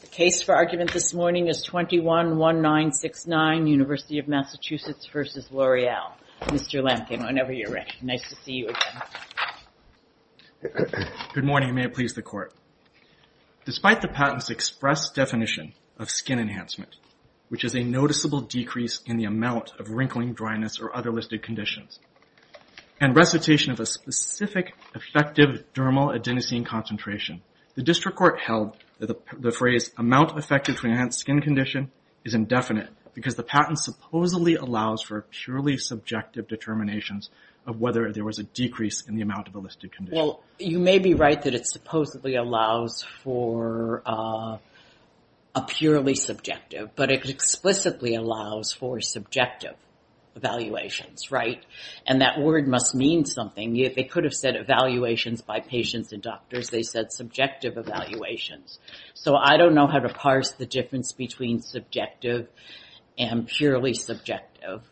The case for argument this morning is 21-1969, University of Massachusetts v. L'Oreal. Mr. Lemkin, whenever you're ready. Nice to see you again. Good morning. May it please the Court. Despite the patent's express definition of skin enhancement, which is a noticeable decrease in the amount of wrinkling, dryness, or other listed conditions, and recitation of a specific effective dermal adenosine concentration, the district court held that the phrase, ''amount affected to enhanced skin condition'' is indefinite because the patent supposedly allows for purely subjective determinations of whether there was a decrease in the amount of a listed condition. You may be right that it supposedly allows for a purely subjective, but it explicitly allows for subjective evaluations, right? And that word must mean something. They could have said evaluations by patients and doctors. They said subjective evaluations. So I don't know how to parse the difference between subjective and purely subjective.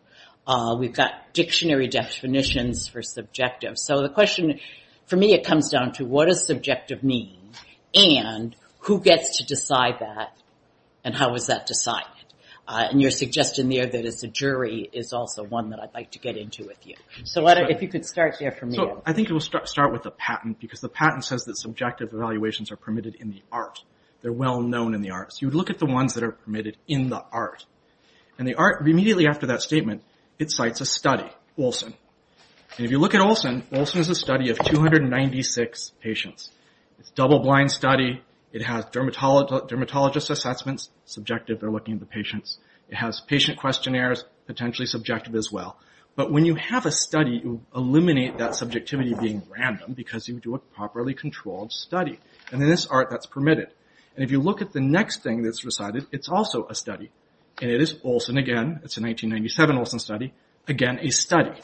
We've got dictionary definitions for subjective. So the question, for me, it comes down to what does subjective mean, and who gets to decide that, and how is that decided? And your suggestion there that it's a jury is also one that I'd like to get into with you. So if you could start there for me. I think we'll start with the patent, because the patent says that subjective evaluations are permitted in the art. They're well-known in the art. So you would look at the ones that are permitted in the art. And the art, immediately after that statement, it cites a study, Olson. And if you look at Olson, Olson is a study of 296 patients. It's a double-blind study. It has dermatologist assessments, subjective, they're looking at the patients. It has patient questionnaires, potentially subjective as well. But when you have a study, you eliminate that subjectivity being random, because you do a properly controlled study. And in this art, that's permitted. And if you look at the next thing that's decided, it's also a study. And it is Olson again. It's a 1997 Olson study. Again, a study.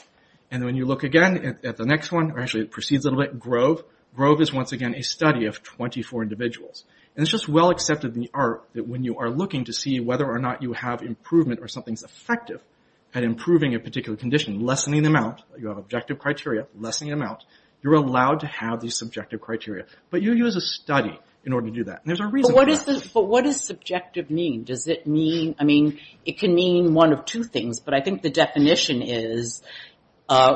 And when you look again at the next one, or actually it proceeds a little bit, Grove. Grove is once again a study of 24 individuals. And it's just well accepted in the art that when you are looking to see whether or not you have improvement or something's effective at improving a particular condition, lessening the amount. You have objective criteria, lessening the amount. You're allowed to have these subjective criteria. But you use a study in order to do that. And there's a reason for that. But what does subjective mean? Does it mean, I mean, it can mean one of two things. But I think the definition is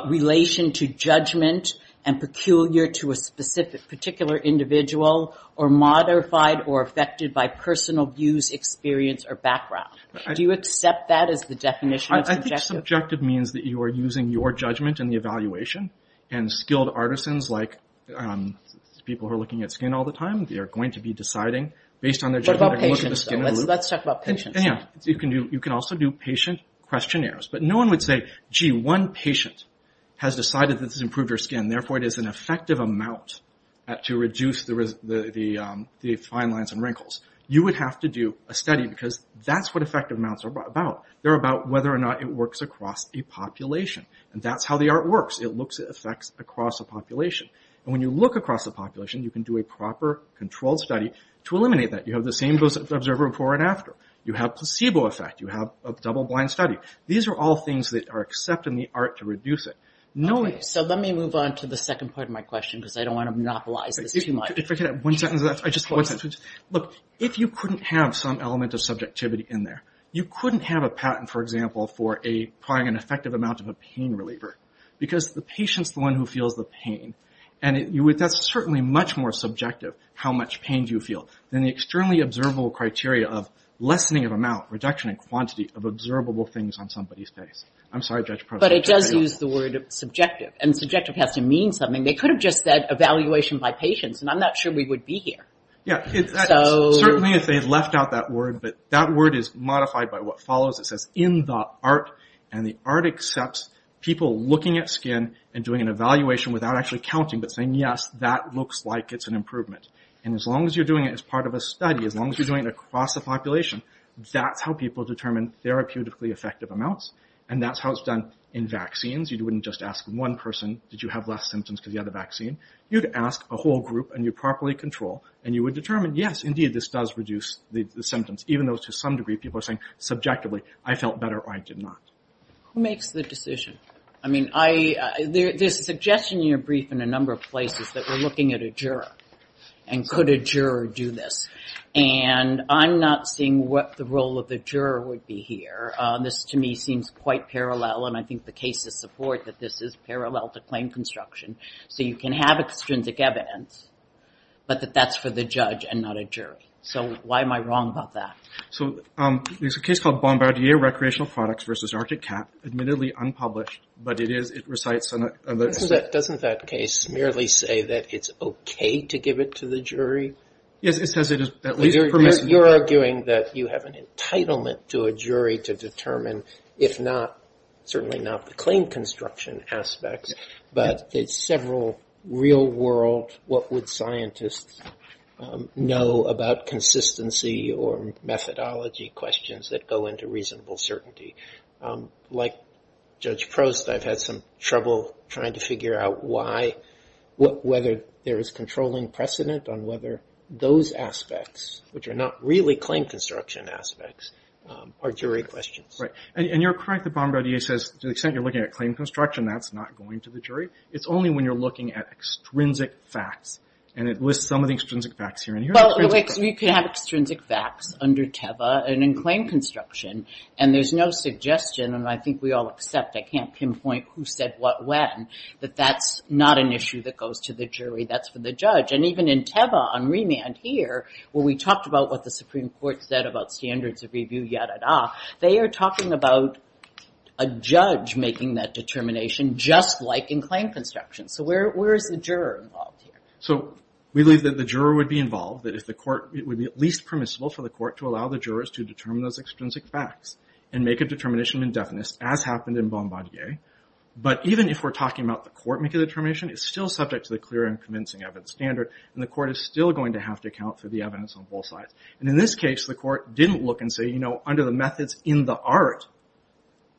relation to judgment and peculiar to a specific particular individual or modified or affected by personal views, experience, or background. Do you accept that as the definition of subjective? I think subjective means that you are using your judgment in the evaluation. And skilled artisans like people who are looking at skin all the time, they are going to be deciding based on their judgment. What about patients, though? Let's talk about patients. You can also do patient questionnaires. But no one would say, gee, one patient has decided that this has improved her skin. Therefore, it is an effective amount to reduce the fine lines and wrinkles. You would have to do a study. Because that's what effective amounts are about. They're about whether or not it works across a population. And that's how the art works. It looks at effects across a population. And when you look across a population, you can do a proper, controlled study to eliminate that. You have the same observer before and after. You have placebo effect. You have a double-blind study. These are all things that are accepted in the art to reduce it. So let me move on to the second part of my question. Because I don't want to monopolize this too much. If I could have one sentence left. If you couldn't have some element of subjectivity in there, you couldn't have a patent, for example, for applying an effective amount of a pain reliever. Because the patient's the one who feels the pain. And that's certainly much more subjective, how much pain do you feel, than the externally observable criteria of lessening of amount, reduction in quantity of observable things on somebody's face. I'm sorry, Judge Prosser. But it does use the word subjective. And subjective has to mean something. They could have just said evaluation by patients. And I'm not sure we would be here. Certainly if they had left out that word. But that word is modified by what follows. It says, in the art. And the art accepts people looking at skin and doing an evaluation without actually counting. But saying, yes, that looks like it's an improvement. And as long as you're doing it as part of a study, as long as you're doing it across the population, that's how people determine therapeutically effective amounts. And that's how it's done in vaccines. You wouldn't just ask one person, did you have less symptoms because you had the vaccine? You'd ask a whole group and you'd properly control. And you would determine, yes, indeed, this does reduce the symptoms. Even though to some degree people are saying subjectively, I felt better or I did not. Who makes the decision? There's a suggestion in your brief in a number of places that we're looking at a juror. And could a juror do this? And I'm not seeing what the role of the juror would be here. This to me seems quite parallel. And I think the cases support that this is parallel to claim construction. So you can have extrinsic evidence, but that that's for the judge and not a jury. So why am I wrong about that? There's a case called Bombardier Recreational Products versus Arctic Cat, admittedly unpublished, but it recites some of the... Doesn't that case merely say that it's okay to give it to the jury? Yes, it says it is at least permissible. You're arguing that you have an entitlement to a jury to determine, if not, certainly not the claim construction aspects, but there's several real-world, what would scientists know about consistency or methodology questions that go into reasonable certainty. Like Judge Prost, I've had some trouble trying to figure out why, whether there is controlling precedent on whether those aspects, which are not really claim construction aspects, are jury questions. And you're correct that Bombardier says, to the extent you're looking at claim construction, that's not going to the jury. It's only when you're looking at extrinsic facts, and it lists some of the extrinsic facts here. Well, you can have extrinsic facts under TEVA and in claim construction, and there's no suggestion, and I think we all accept, I can't pinpoint who said what when, that that's not an issue that goes to the jury, that's for the judge. And even in TEVA on remand here, where we talked about what the Supreme Court said about standards of review, yada-da, they are talking about a judge making that determination, just like in claim construction. So where is the juror involved here? So we believe that the juror would be involved, that if the court, it would be at least permissible for the court to allow the jurors to determine those extrinsic facts and make a determination in deafness, as happened in Bombardier. But even if we're talking about the court making the determination, it's still subject to the clear and convincing evidence standard, and the court is still going to have to account for the evidence on both sides. And in this case, the court didn't look and say, you know, under the methods in the art,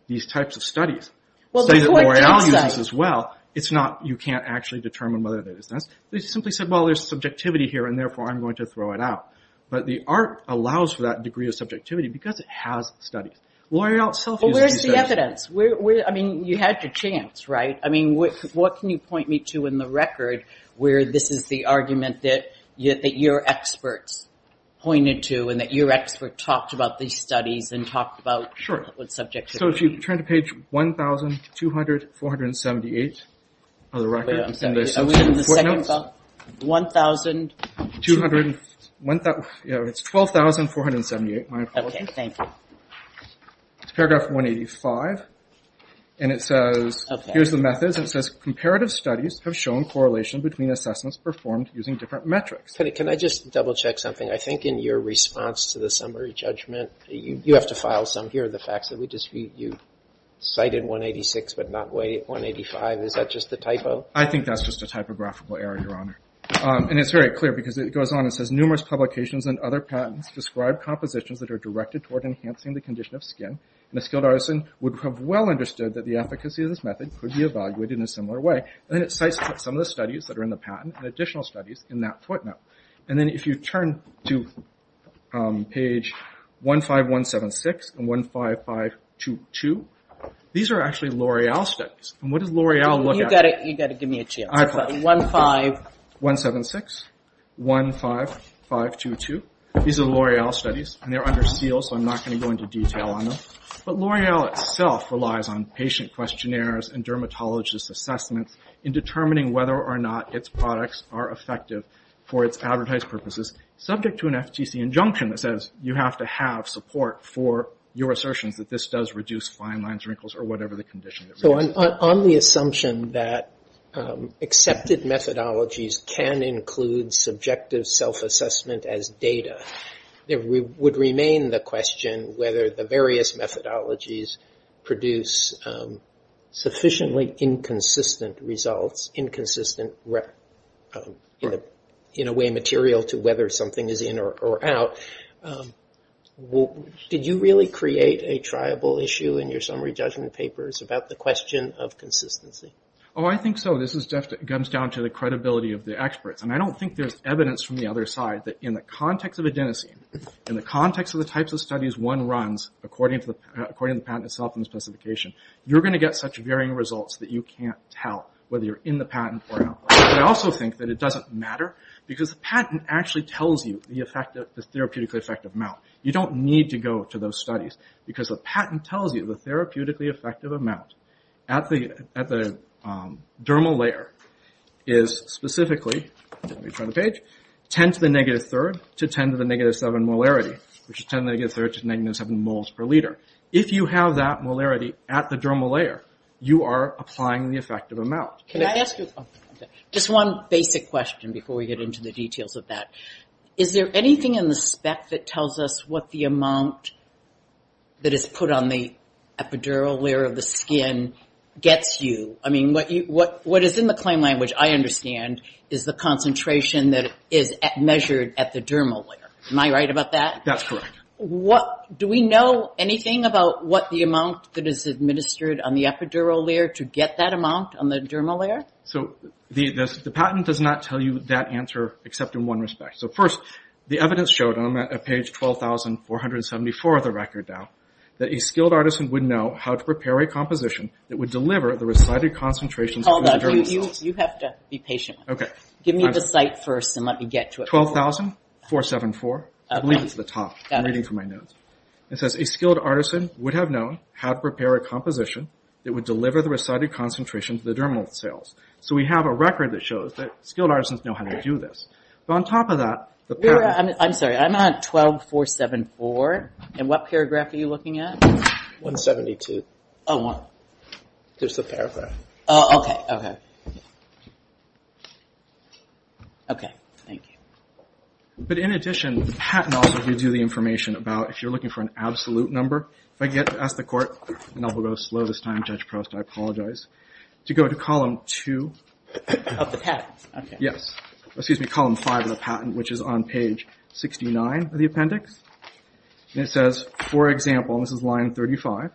these types of studies, say that L'Oreal uses as well, it's not, you can't actually determine whether it is this. They simply said, well, there's subjectivity here, and therefore I'm going to throw it out. But the art allows for that degree of subjectivity because it has studies. L'Oreal itself uses these studies. Well, where's the evidence? I mean, you had your chance, right? I mean, what can you point me to in the record where this is the argument that your experts pointed to and that your expert talked about these studies and talked about what subjectivity is? Sure. So if you turn to page 1,200,478 of the record... Wait, I'm sorry. Are we in the second book? 1,200... Yeah, it's 12,478. Okay, thank you. It's paragraph 185, and it says, here's the methods, and it says, comparative studies have shown correlation between assessments performed using different metrics. Can I just double-check something? I think in your response to the summary judgment, you have to file some here, the facts that you cited 186 but not 185. Is that just a typo? I think that's just a typographical error, Your Honor. And it's very clear because it goes on and says, numerous publications and other patents describe compositions that are directed toward enhancing the condition of skin, and a skilled artisan would have well understood that the efficacy of this method could be evaluated in a similar way. And it cites some of the studies that are in the patent and additional studies in that footnote. And then if you turn to page 15176 and 15522, these are actually L'Oreal studies. And what does L'Oreal look at? You've got to give me a chance. I apologize. 15176, 15522. These are L'Oreal studies, and they're under seal, so I'm not going to go into detail on them. But L'Oreal itself relies on patient questionnaires and dermatologists' assessments in determining whether or not its products are effective for its advertised purposes, subject to an FTC injunction that says you have to have support for your assertions that this does reduce fine lines, wrinkles, or whatever the condition. So on the assumption that accepted methodologies can include subjective self-assessment as data, there would remain the question whether the various methodologies produce sufficiently inconsistent results, inconsistent in a way material to whether something is in or out. Did you really create a triable issue in your summary judgment papers about the question of consistency? Oh, I think so. This comes down to the credibility of the experts. And I don't think there's evidence from the other side that in the context of adenosine, in the context of the types of studies one runs according to the patent itself and the specification, you're going to get such varying results that you can't tell whether you're in the patent or out. But I also think that it doesn't matter because the patent actually tells you the therapeutically effective amount. You don't need to go to those studies because the patent tells you the therapeutically effective amount at the dermal layer is specifically 10 to the negative 7 molarity, which is 10 to the negative 7 moles per liter. If you have that molarity at the dermal layer, you are applying the effective amount. Just one basic question before we get into the details of that. Is there anything in the spec that tells us what the amount that is put on the epidural layer of the skin gets you? I mean, what is in the claim language, I understand, is the concentration that is measured at the dermal layer. Am I right about that? That's correct. Do we know anything about what the amount that is administered on the epidural layer to get that amount on the dermal layer? The patent does not tell you that answer except in one respect. So first, the evidence showed on page 12,474 of the record that a skilled artisan would know how to prepare a composition that would deliver the recited concentrations of the dermal cells. You have to be patient. Give me the site first and let me get to it. 12,474. I believe it's at the top. I'm reading through my notes. It says, a skilled artisan would have known how to prepare a composition that would deliver the recited concentrations of the dermal cells. So we have a record that shows that skilled artisans know how to do this. But on top of that, the patent... I'm sorry, I'm on 12,474. And what paragraph are you looking at? 172. Oh. There's a paragraph. Oh, okay. Okay. Okay. Thank you. But in addition, the patent also gives you the information about if you're looking for an absolute number. If I get to ask the Court, and I will go slow this time, Judge Proust, I apologize, to go to column 2 of the patent. Yes. Excuse me, column 5 of the patent, which is on page 69 of the appendix. And it says, for example, and this is line 35,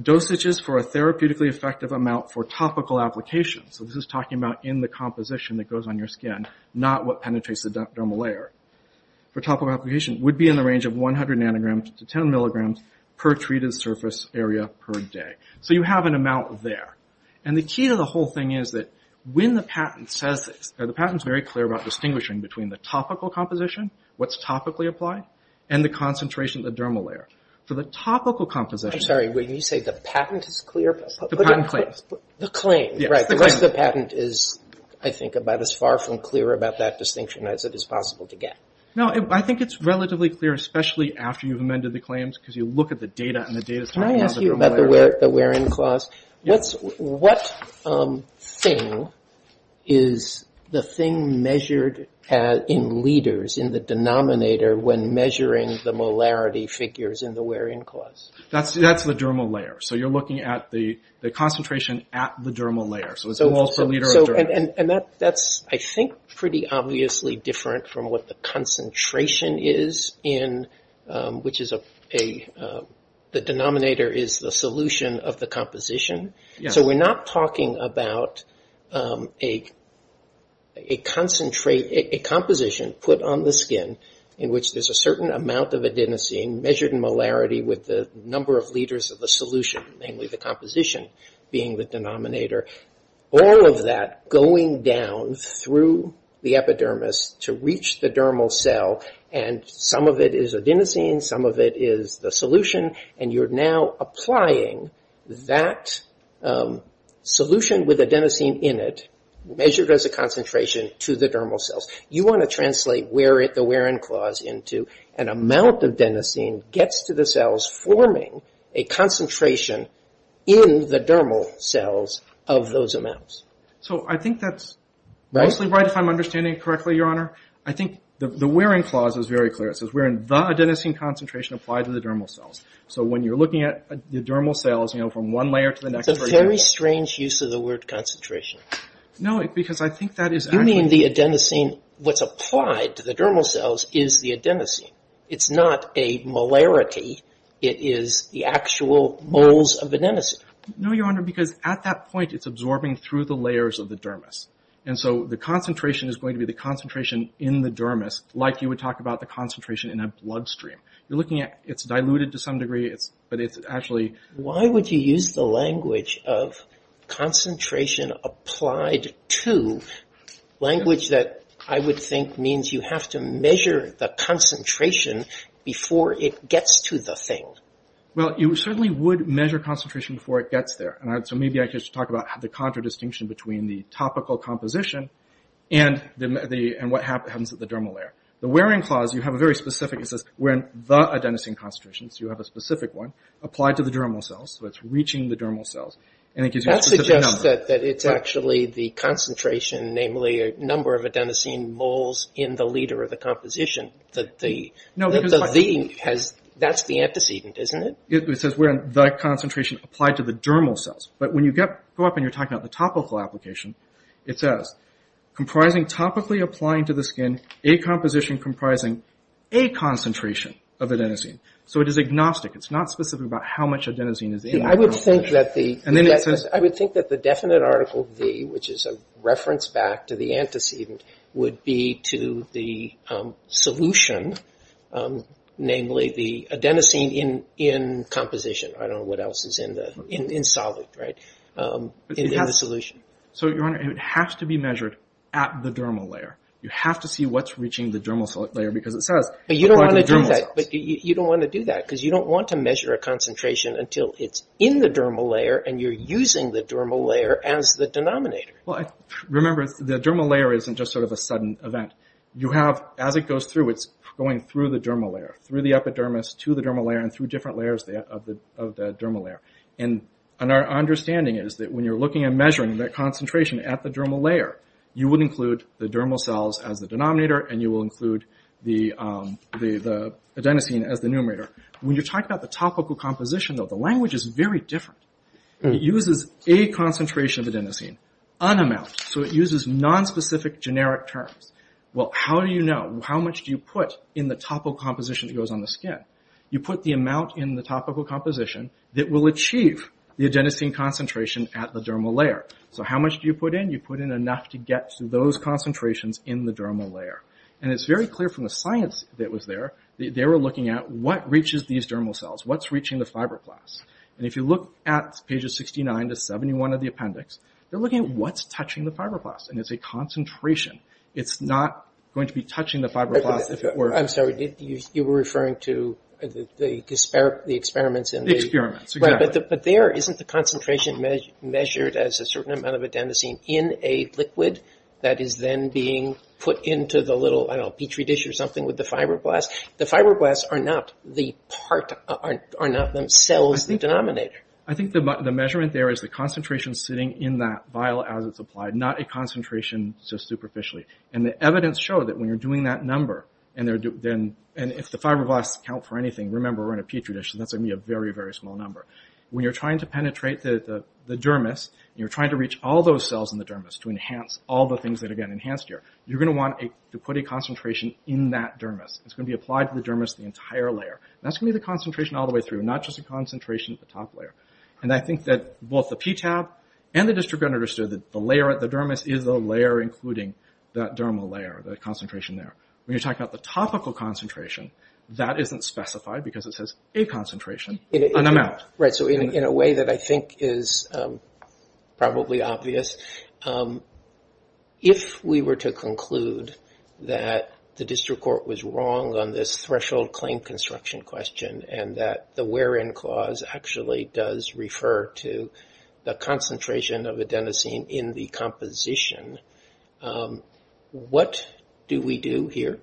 dosages for a therapeutically effective amount for topical application, so this is talking about in the composition that goes on your skin, not what penetrates the dermal layer. For topical application, it would be in the range of 100 nanograms to 10 milligrams per treated surface area per day. So you have an amount there. And the key to the whole thing is that when the patent says this, the patent's very clear about distinguishing between the topical composition, what's topically applied, and the concentration of the dermal layer. For the topical composition... I'm sorry, when you say the patent is clear... The patent claims. The claims, right. Because the patent is, I think, about as far from clear about that distinction as it is possible to get. No, I think it's relatively clear, especially after you've amended the claims, because you look at the data and the data's talking about the dermal layer there. Can I ask you about the wear-in clause? What thing is the thing measured in liters in the denominator when measuring the molarity figures in the wear-in clause? That's the dermal layer. So you're looking at the concentration at the dermal layer. So it's moles per liter of dermal. And that's, I think, pretty obviously different from what the concentration is in which is a the denominator is the solution of the composition. So we're not talking about a a composition put on the skin in which there's a similarity with the number of liters of the solution, namely the composition being the denominator. All of that going down through the epidermis to reach the dermal cell and some of it is adenosine, some of it is the solution, and you're now applying that solution with adenosine in it measured as a concentration to the dermal cells. You want to translate the wear-in clause into an amount of adenosine gets to the cells forming a concentration in the dermal cells of those amounts. So I think that's mostly right if I'm understanding it correctly, Your Honor. I think the wear-in clause is very clear. It says, the adenosine concentration applied to the dermal cells. So when you're looking at the dermal cells from one layer to the next... That's a very strange use of the word concentration. No, because I think that is... You mean the adenosine, what's applied to the dermal cells is the adenosine. It's not a molarity. It is the actual moles of adenosine. No, Your Honor, because at that point it's absorbing through the layers of the dermis. And so the concentration is going to be the concentration in the dermis, like you would talk about the concentration in a bloodstream. You're looking at, it's diluted to some degree, but it's actually... Why would you use the language of concentration applied to, language that I would think means you have to measure the concentration before it gets to the thing? Well, you certainly would measure concentration before it gets there. So maybe I could just talk about the contradistinction between the topical composition and what happens at the dermal layer. The wear-in clause, you have a very specific, it says, the adenosine concentration, so you have a specific one, applied to the dermal cells, so it's reaching the dermal cells, and it gives you a specific number. That suggests that it's actually the number of adenosine moles in the leader of the composition, that the V has, that's the antecedent, isn't it? It says the concentration applied to the dermal cells. But when you go up and you're talking about the topical application, it says comprising topically applying to the skin, a composition comprising a concentration of adenosine. So it is agnostic. It's not specific about how much adenosine is in that. I would think that the definite article V, which is a reference back to the antecedent, would be to the solution, namely the adenosine in composition. I don't know what else is in the, in solid, right, in the solution. So, Your Honor, it has to be measured at the dermal layer. You have to see what's reaching the dermal layer, because it says applied to the dermal cells. But you don't want to do that. You don't want to do that, because you don't want to measure a concentration until it's in the dermal layer, and you're using the dermal layer as the denominator. Remember, the dermal layer isn't just sort of a sudden event. You have, as it goes through, it's going through the dermal layer, through the epidermis, to the dermal layer, and through different layers of the dermal layer. And our understanding is that when you're looking and measuring that concentration at the dermal layer, you would include the dermal cells as the denominator, and you will include the adenosine as the numerator. When you're talking about the topical composition, though, the language is very different. It uses a concentration of adenosine, an amount. So it uses nonspecific, generic terms. Well, how do you know? How much do you put in the topical composition that goes on the skin? You put the amount in the topical composition that will achieve the adenosine concentration at the dermal layer. So how much do you put in? You put in enough to get to those concentrations in the dermal layer. And it's very clear from the science that was there, they were looking at what reaches these dermal cells, what's reaching the fibroblasts. And if you look at pages 69 to 71 of the appendix, they're looking at what's touching the fibroblasts. And it's a concentration. It's not going to be touching the fibroblasts if it were. I'm sorry, you were referring to the experiments. The experiments, exactly. But there, isn't the concentration measured as a certain amount of adenosine in a liquid that is then being put into the little petri dish or something with the fibroblasts? The fibroblasts are not themselves the denominator. I think the measurement there is the concentration sitting in that vial as it's applied, not a concentration so superficially. And the evidence showed that when you're doing that number, and if the fibroblasts count for anything, remember, we're in a petri dish, so that's going to be a very, very small number. When you're trying to penetrate the dermis, and you're trying to reach all those cells in the dermis to enhance all the things that are getting enhanced here, you're going to want to put a concentration in that dermis. It's going to be applied to the dermis, the entire layer. That's going to be the concentration all the way through, not just the concentration at the top layer. And I think that both the PTAB and the district court understood that the dermis is the layer including that dermal layer, that concentration there. When you're talking about the topical concentration, that isn't specified because it says a concentration, an amount. Right, so in a way that I think is probably obvious, if we were to conclude that the district court was wrong on this threshold claim construction question, and that the where-in clause actually does refer to the concentration of adenosine in the composition, what do we do here?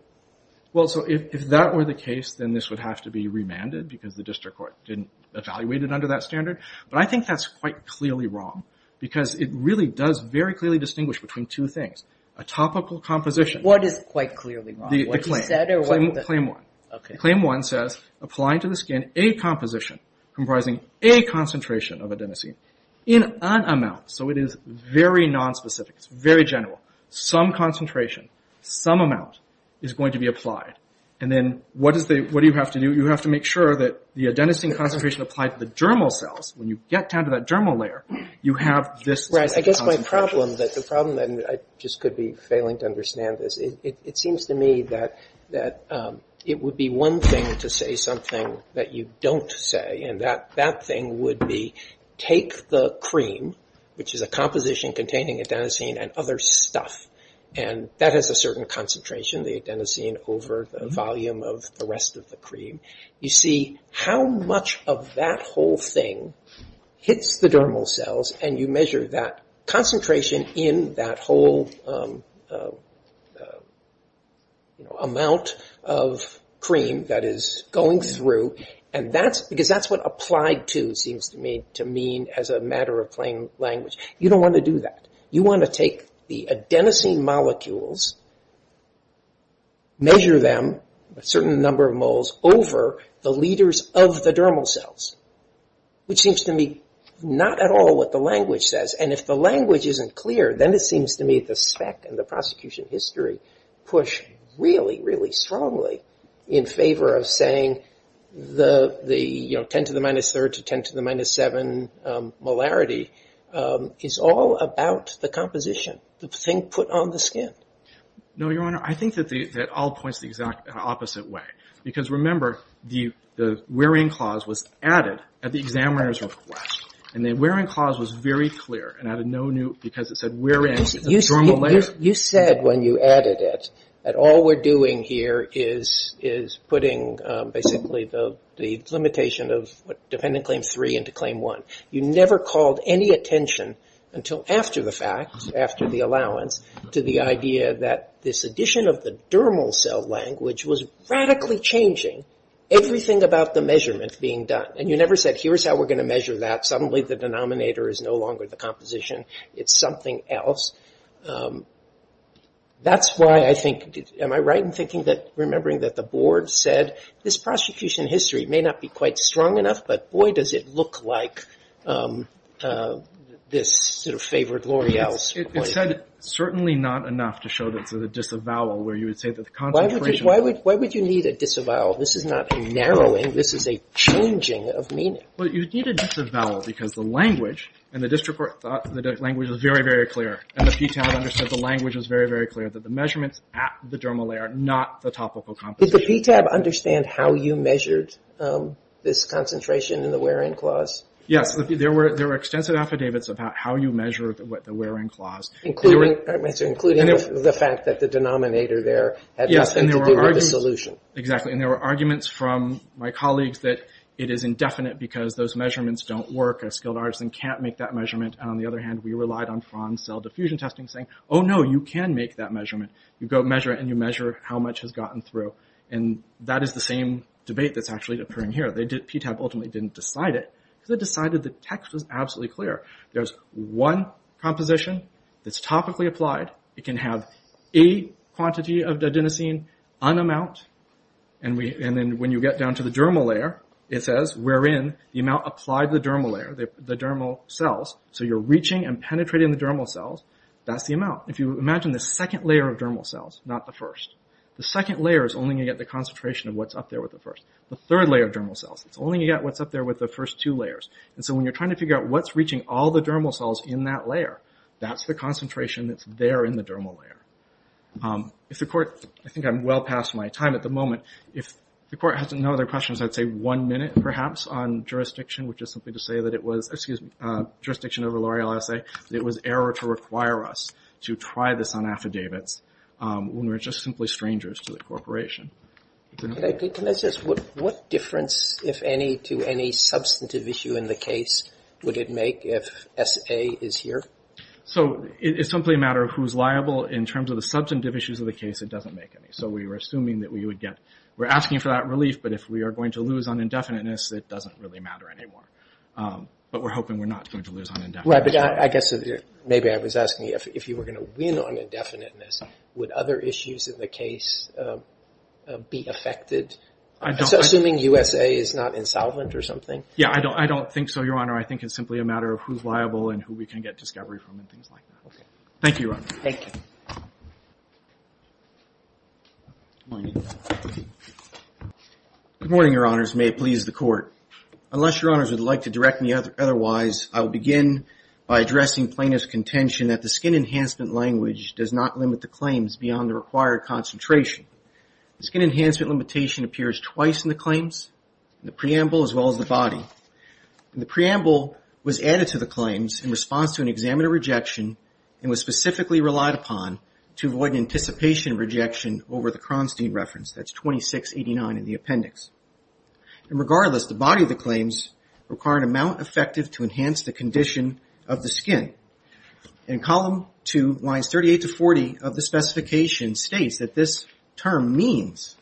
Well, so if that were the case, then this would have to be remanded, because the district court didn't evaluate it under that standard. But I think that's quite clearly wrong, because it really does very clearly distinguish between two things. A topical composition... What is claim one? Claim one says applying to the skin a composition comprising a concentration of adenosine in an amount. So it is very nonspecific. It's very general. Some concentration, some amount, is going to be applied. And then what do you have to do? You have to make sure that the adenosine concentration applied to the dermal cells, when you get down to that dermal layer, you have this... Right, I guess my problem, that the problem, and I just could be failing to understand this, it seems to me that it would be one thing to say something that you don't say, and that thing would be take the cream, which is a composition containing adenosine and other stuff, and that has a certain concentration, the adenosine, over the volume of the rest of the cream. You see how much of that whole thing hits the dermal cells, and you measure that concentration in that whole amount of cream that is going through, and that's... because that's what applied to seems to me to mean as a matter of plain language. You don't want to do that. You want to take the adenosine molecules, measure them, a certain number of moles, over the leaders of the dermal cells, which seems to me not at all what the language says. And if the language isn't clear, then it seems to me the spec and the prosecution history push really, really strongly in favor of saying the 10 to the minus third to 10 to the minus seven molarity is all about the composition, the thing put on the skin. No, Your Honor. I think that all points the exact opposite way. Because remember, the wearing clause was added at the examiner's request, and the wearing clause was very clear, and you said when you added it that all we're doing here is putting basically the limitation of dependent claim three into claim one. You never called any attention until after the fact, after the allowance, to the idea that this addition of the dermal cell language was radically changing everything about the measurement being done. And you never said, here's how we're going to measure that. Suddenly the denominator is no longer the composition. It's something else. That's why I think, am I right in thinking that remembering that the board said this prosecution history may not be quite strong enough, but boy does it look like this sort of favored L'Oreal's point. It said certainly not enough to show that it's a disavowal where you would say that the concentration... Why would you need a disavowal? This is not a narrowing. This is a changing of meaning. Well, you need a disavowal because the language and the district court thought the language was very, very clear. And the PTAB understood the language was very, very clear that the measurements at the dermal layer are not the topical composition. Did the PTAB understand how you measured this concentration in the wear-in clause? Yes. There were extensive affidavits about how you measure the wear-in clause. Including the fact that the denominator there had nothing to do with the solution. Exactly. And there were arguments from my colleagues that it is indefinite because those don't make that measurement. On the other hand, we relied on cell diffusion testing saying, oh no, you can make that measurement. You go measure it and you measure how much has gotten through. And that is the same debate that's actually occurring here. PTAB ultimately didn't decide it. They decided the text was absolutely clear. There's one composition that's topically applied. It can have a quantity of didenosine, an amount, and then when you get down to the dermal layer, it says wherein the amount of cells, so you're reaching and penetrating the dermal cells, that's the amount. Imagine the second layer of dermal cells, not the first. The second layer is only going to get the concentration of what's up there with the first. The third layer of dermal cells, it's only going to get what's up there with the first two layers. When you're trying to figure out what's reaching all the dermal cells in that layer, that's the concentration that's there in the dermal layer. I think I'm well past my time at the moment. If the Court has no other questions, I'd say one minute perhaps on jurisdiction, which is simply to say that it was jurisdiction over L'Oreal SA. It was error to require us to try this on affidavits when we're just simply strangers to the corporation. Can I ask what difference, if any, to any substantive issue in the case would it make if SA is here? It's simply a matter of who's liable. In terms of the substantive issues of the case, it doesn't make any. We were assuming that we would get we're asking for that relief, but if we are going to lose on indefiniteness, it doesn't really matter anymore. But we're hoping we're not going to lose on indefiniteness. Maybe I was asking if you were going to win on indefiniteness, would other issues in the case be affected? Assuming USA is not insolvent or something? Yeah, I don't think so, Your Honor. I think it's simply a matter of who's liable and who we can get discovery from and things like that. Thank you, Your Honor. Thank you. Good morning, Your Honors. May it please the Court. Unless Your Honors would like to direct me otherwise, I will begin by addressing plaintiff's contention that the skin enhancement language does not limit the claims beyond the required concentration. Skin enhancement limitation appears twice in the claims, the preamble, as well as the body. The preamble was added to the claims in response to an examiner rejection and was specifically relied upon to avoid anticipation of rejection over the Cronstein reference. That's 2689 in the appendix. Regardless, the body of the claims require an amount effective to enhance the condition of the skin. In column 2, lines 38 to 40 of the specification states that this term means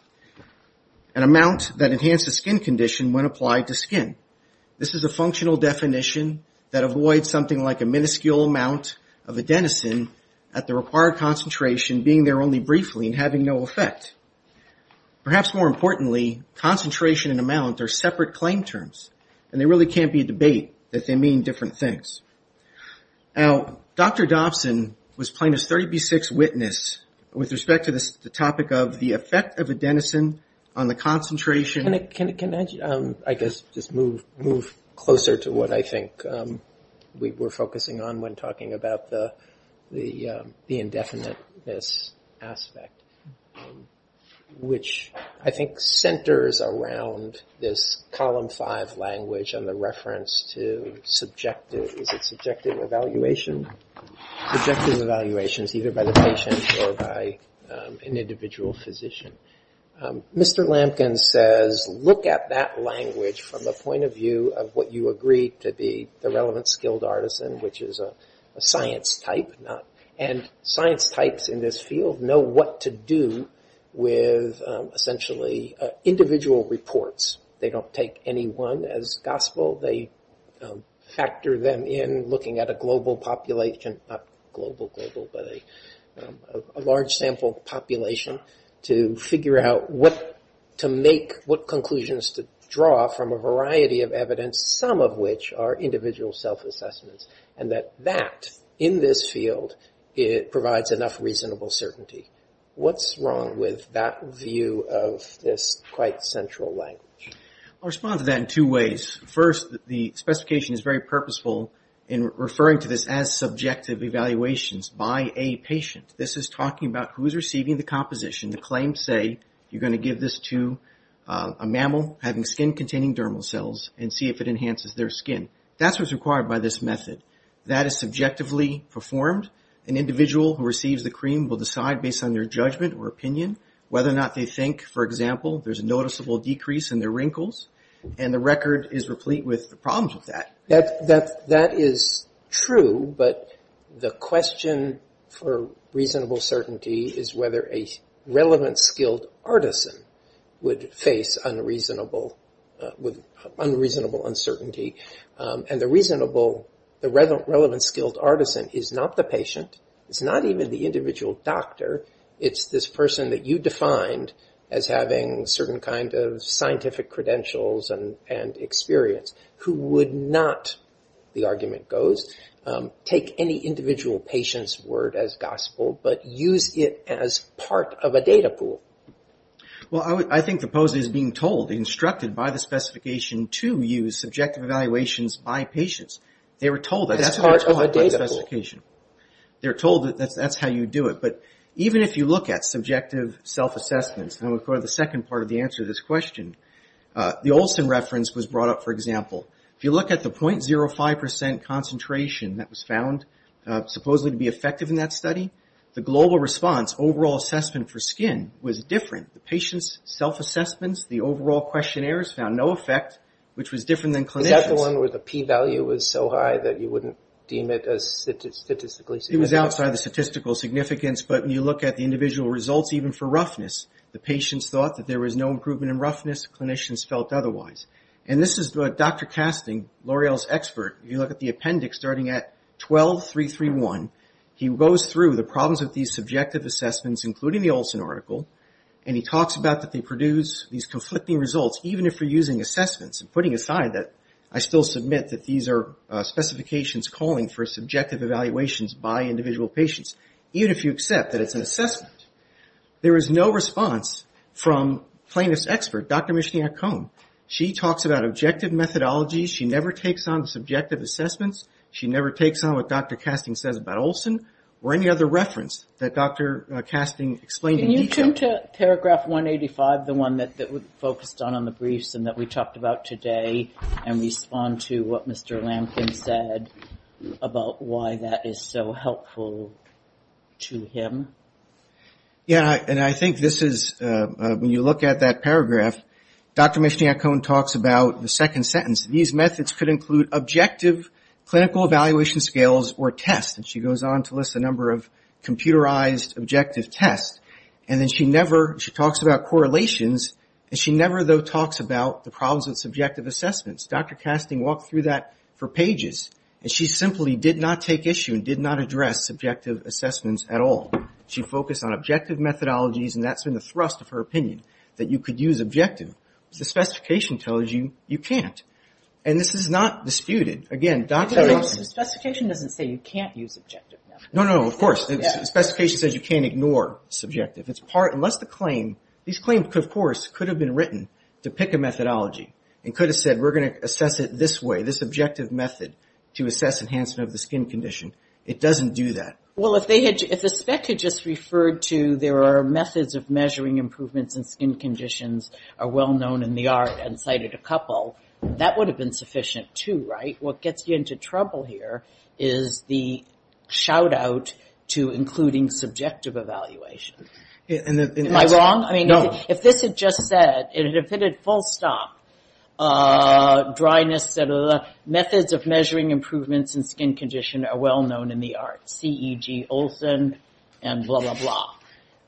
an amount that enhances skin condition when applied to skin. This is a functional definition that avoids something like a minuscule amount of adenosine at the required concentration being there only briefly and having no effect. Perhaps more importantly, concentration and amount are separate claim terms, and there really can't be a debate that they mean different things. Now, Dr. Dobson was plaintiff's 30B6 witness with respect to the topic of the effect of adenosine on the concentration... Can I just move closer to what I think we're focusing on when talking about the indefiniteness aspect, which I think centers around this column 5 language and the reference to subjective evaluations, either by the patient or by an individual physician. Mr. Lampkin says, look at that language from the point of view of what you agree to be the relevant skilled artisan, which is a science type. Science types in this field know what to do with essentially individual reports. They don't take any one as gospel. They factor them in, looking at a global population, not global, but a large sample population to figure out what conclusions to draw from a variety of evidence, some of which are individual self-assessments, and that that, in this field, provides enough reasonable certainty. What's wrong with that view of this quite central language? I'll respond to that in two ways. First, the specification is very purposeful in referring to this as subjective evaluations by a patient. This is talking about who is receiving the composition. The claims say you're going to give this to a mammal having skin-containing dermal cells and see if it enhances their skin. That's what's required by this method. That is subjectively performed. An individual who receives the cream will decide, based on their judgment or opinion, whether or not they think, for example, there's a noticeable decrease in their wrinkles, and the record is replete with the problems of that. That is true, but the question for reasonable certainty is whether a relevant, skilled artisan would face unreasonable uncertainty. The reasonable, the relevant, skilled artisan is not the patient. It's not even the individual doctor. It's this person that you defined as having certain kind of scientific credentials and experience who would not, the argument goes, take any individual patient's word as part of a data pool. Well, I think the pose is being told, instructed by the specification to use subjective evaluations by patients. They were told that's part of a data pool. They were told that that's how you do it. Even if you look at subjective self-assessments, and we'll go to the second part of the answer to this question, the Olson reference was brought up, for example. If you look at the 0.05% concentration that was found supposedly to be effective in that study, the global response, overall assessment for skin, was different. The patient's self-assessments, the overall questionnaires found no effect, which was different than clinicians. Is that the one where the p-value was so high that you wouldn't deem it as statistically significant? It was outside the statistical significance, but when you look at the individual results, even for roughness, the patients thought that there was no improvement in roughness. Clinicians felt otherwise. And this is what Dr. Casting, L'Oreal's expert, if you look at the appendix starting at 12.331, he goes through the problems with these subjective assessments, including the Olson article, and he talks about that they produce these conflicting results, even if you're using assessments, and putting aside that I still submit that these are specifications calling for subjective evaluations by individual patients, even if you accept that it's an assessment. There is no response from plaintiff's expert, Dr. Micheline Ocone. She talks about objective methodologies. She never takes on subjective assessments. She never takes on what Dr. Casting says about Olson, or any other reference that Dr. Casting explained in detail. Can you turn to paragraph 185, the one that we focused on on the briefs and that we talked about today, and respond to what Mr. Lampkin said about why that is so helpful to him? Yeah, and I think this is, when you look at that paragraph, Dr. Micheline Ocone talks about the second sentence. These methods could include objective clinical evaluation scales or tests. She goes on to list a number of computerized objective tests. She talks about correlations, and she never, though, talks about the problems of subjective assessments. Dr. Casting walked through that for pages, and she simply did not take issue and did not address subjective assessments at all. She focused on objective methodologies, and that's been the thrust of her opinion, that you could use objective. The specification tells you you can't. And this is not disputed. Again, Dr. Ocone... The specification doesn't say you can't use objective. No, no, of course. The specification says you can't ignore subjective. Unless the claim... These claims, of course, could have been written to pick a methodology and could have said, we're going to assess it this way, this objective method to assess enhancement of the skin condition. It doesn't do that. Well, if the spec had just referred to there are methods of measuring improvements in skin conditions are well-known in the art, and cited a couple, that would have been sufficient too, right? What gets you into trouble here is the shout-out to including subjective evaluation. Am I wrong? No. If this had just said, if it had full stop, dryness, et cetera, methods of measuring improvements in skin condition are well-known in the art. C.E.G. Olson, and blah, blah, blah.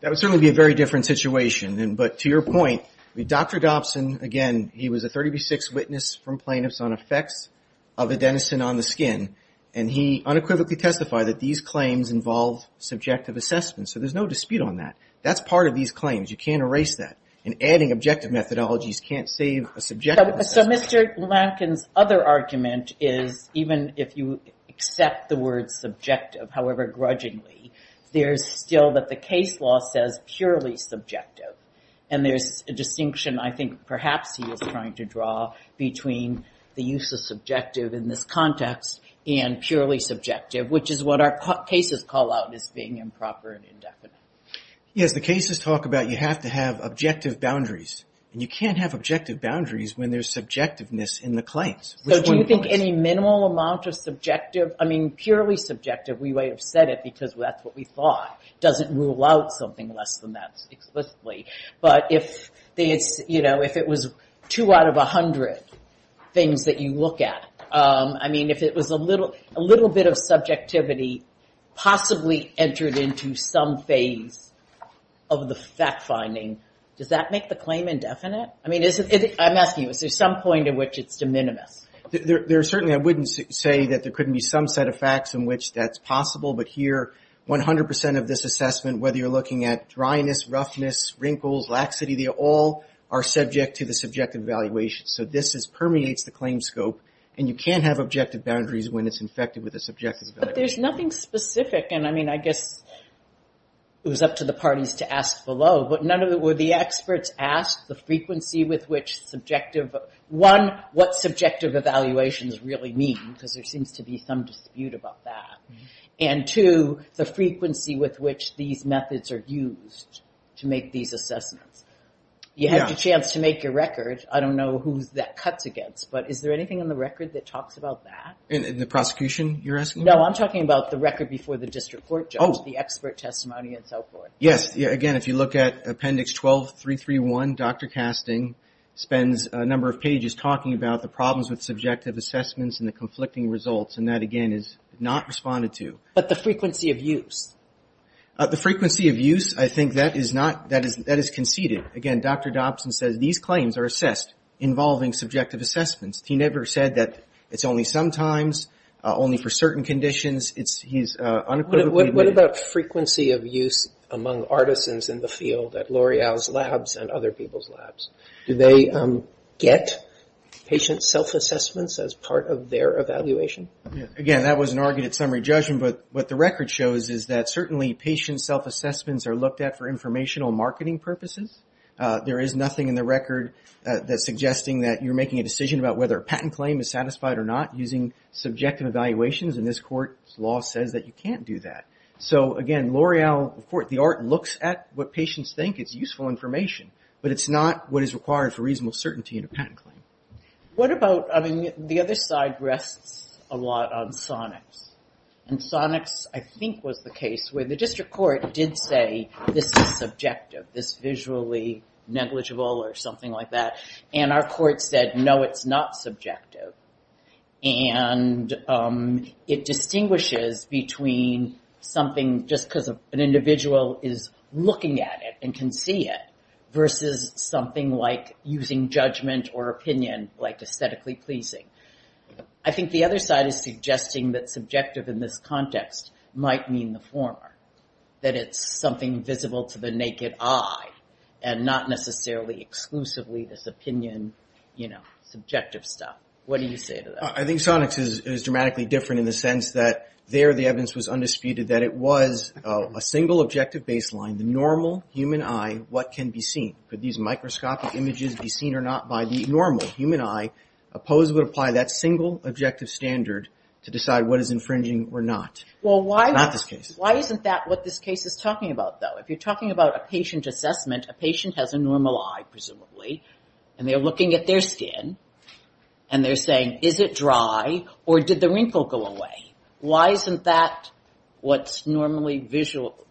That would certainly be a very different situation. But to your point, Dr. Dobson, again, he was a 30B6 witness from plaintiffs on effects of adenosine on the skin. And he unequivocally testified that these claims involve subjective assessment. So there's no dispute on that. That's part of these claims. You can't erase that. And adding objective methodologies can't save a subjective assessment. So Mr. Lankin's other argument is, even if you accept the words subjective, however grudgingly, there's still that the case law says purely subjective. And there's a distinction I think perhaps he was trying to draw between the use of subjective in this context and purely subjective, which is what our cases call out as being improper and indefinite. Yes, the cases talk about you have to have objective boundaries. And you can't have objective boundaries when there's subjectiveness in the claims. So do you think any minimal amount of subjective, I mean purely subjective, we might have said it because that's what we thought, doesn't rule out something less than that explicitly. But if it's, you know, if it was two out of a hundred things that you look at, I mean if it was a little bit of subjectivity possibly entered into some phase of the fact finding, does that make the claim indefinite? I mean, I'm asking you, is there some point at which it's de minimis? There certainly, I wouldn't say that there couldn't be some set of facts in which that's possible, but here, 100% of this assessment, whether you're looking at dryness, roughness, wrinkles, laxity, they all are subject to the subjective evaluation. So this permeates the claim scope, and you can't have objective boundaries when it's infected with a subjective evaluation. But there's nothing specific, and I mean, I guess it was up to the parties to ask below, but none of it were the experts asked the frequency with which subjective, one, what subjective evaluations really mean, because there and two, the frequency with which these methods are used to make these assessments. You have the chance to make your record, I don't know who that cuts against, but is there anything on the record that talks about that? In the prosecution, you're asking? No, I'm talking about the record before the district court judge, the expert testimony and so forth. Yes, again, if you look at appendix 12331, Dr. Casting spends a number of pages talking about the problems with subjective assessments and the conflicting results, and that, again, is not responded to. But the frequency of use? The frequency of use, I think that is conceded. Again, Dr. Dobson says these claims are assessed involving subjective assessments. He never said that it's only sometimes, only for certain conditions. He's unequivocally What about frequency of use among artisans in the field at L'Oreal's labs and other people's labs? Do they get patient self-assessments as part of their evaluation? Again, that was an argument at summary judgment, but what the record shows is that certainly patient self-assessments are looked at for informational marketing purposes. There is nothing in the record that's suggesting that you're making a decision about whether a patent claim is satisfied or not using subjective evaluations, and this court's law says that you can't do that. So, again, L'Oreal, the art looks at what patients think is useful information, but it's not what is required for reasonable certainty in a patent claim. What about, I mean, the other side rests a lot on Sonics, and Sonics I think was the case where the district court did say, this is subjective, this is visually negligible or something like that, and our court said, no, it's not subjective. And it distinguishes between something just because an individual is looking at it and can see it versus something like using judgment or opinion like aesthetically pleasing. I think the other side is suggesting that subjective in this context might mean the former, that it's something visible to the naked eye, and not necessarily exclusively this opinion, you know, subjective stuff. What do you say to that? I think Sonics is dramatically different in the sense that there the evidence was undisputed that it was a single objective baseline, the normal human eye, what can be seen? Could these microscopic images be seen or not by the normal human eye? Opposed would apply that single objective standard to decide what is infringing or not. Why isn't that what this case is talking about though? If you're talking about a patient assessment, a patient has a normal eye, presumably, and they're looking at their skin, and they're saying, is it dry, or did the wrinkle go away? Why isn't that what's normally visual?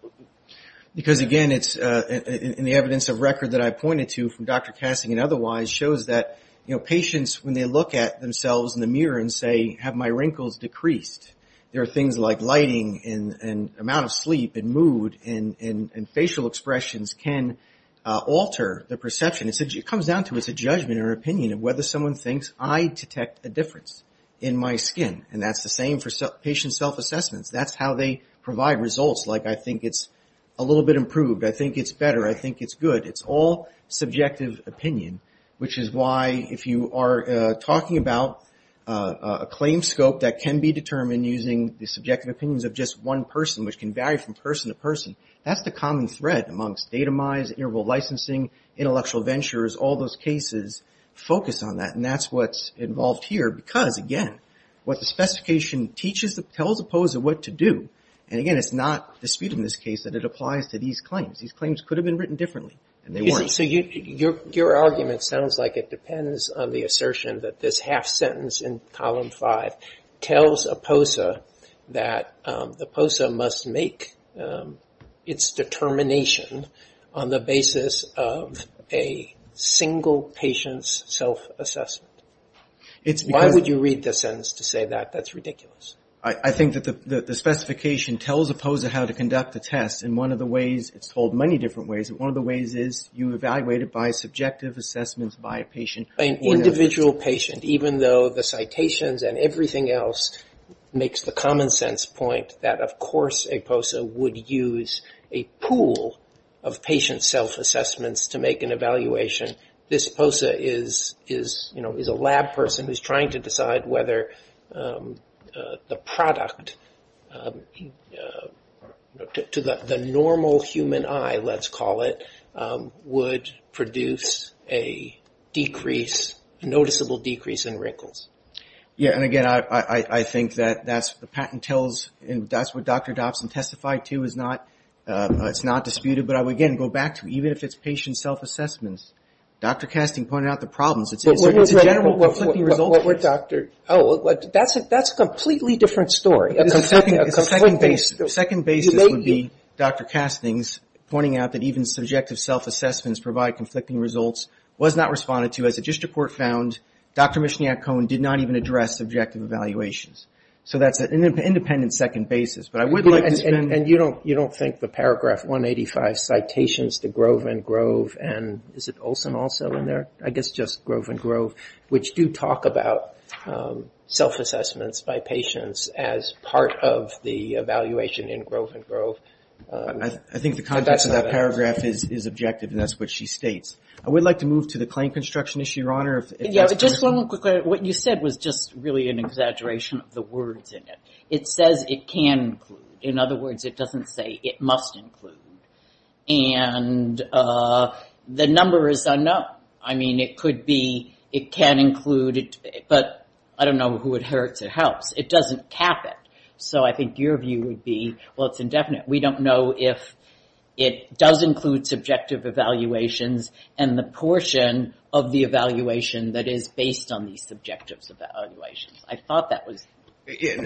Because again, it's in the evidence of record that I pointed to from Dr. Kassing and otherwise, shows that patients, when they look at themselves in the mirror and say, have my wrinkles decreased? There are things like lighting and amount of sleep and mood and facial expressions can alter the perception. It comes down to it's a judgment or opinion of whether someone thinks I detect a difference in my skin, and that's the same for patient self-assessments. That's how they provide results, like I think it's a little bit improved, I think it's better, I think it's good. It's all subjective opinion, which is why, if you are talking about a claim scope that can be determined using the subjective opinions of just one person, which can vary from person to person, that's the common thread amongst datamized, interval licensing, intellectual ventures, all those cases focus on that, and that's what's involved here, because again, what the specification teaches, tells the pose of what to do, and again, it's not disputed in this case that it applies to these claims. These claims could have been written differently, and they weren't. Your argument sounds like it depends on the assertion that this half sentence in column five tells a POSA that the POSA must make its determination on the basis of a single patient's self-assessment. Why would you read the sentence to say that? That's ridiculous. I think that the specification tells a POSA how to conduct a test in one of the ways, it's told many different ways, but one of the ways is you evaluate it by subjective assessments by a patient. An individual patient, even though the citations and everything else makes the common sense point that of course a POSA would use a pool of patient self-assessments to make an evaluation, this POSA is a lab person who's trying to decide whether the product to the normal human eye, let's call it, would produce a noticeable decrease in wrinkles. Yeah, and again, I think that's what the patent tells and that's what Dr. Dobson testified to. It's not disputed, but I would again go back to even if it's patient self-assessments. Dr. Casting pointed out the problems. It's a general conflicting result. Oh, that's a completely different story. A second basis would be Dr. Casting's pointing out that even subjective self-assessments provide conflicting results, was not responded to as a district court found, Dr. Michignac-Cohen did not even address subjective evaluations. So that's an independent second basis. And you don't think the paragraph 185 citations to Grove and Grove and is it Olson also in there? I guess just Grove and Grove, which do talk about self-assessments by patients as part of the evaluation in Grove and Grove. I think the context of that paragraph is objective and that's what she states. I would like to move to the claim construction issue, Your Honor. Just one more quick question. What you said was just really an exaggeration of the words in it. It says it can include. In other words, it doesn't say it must include. And the number is unknown. I mean, it could be, it can include, but I don't know who it hurts. It helps. It doesn't cap it. So I think your view would be, well, it's indefinite. We don't know if it does include subjective evaluations and the portion of the evaluation that is based on these subjective evaluations. I thought that was the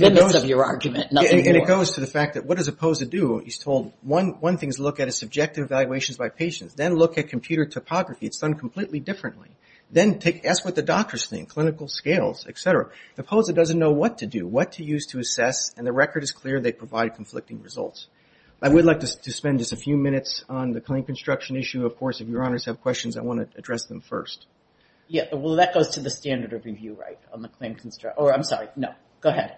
limits of your argument. Nothing more. And it goes to the fact that what does a POSA do? He's told, one thing is look at a subjective evaluation by patients. Then look at computer topography. It's done completely differently. Then ask what the doctors think, clinical scales, et cetera. The POSA doesn't know what to do, what to use to assess, and the record is clear they provide conflicting results. I would like to spend just a few minutes on the claim construction issue. Of course, if Your Honors have questions, I want to address them first. Yeah. Well, that goes to the standard of review, right, on the claim construction. I'm sorry. No. Go ahead.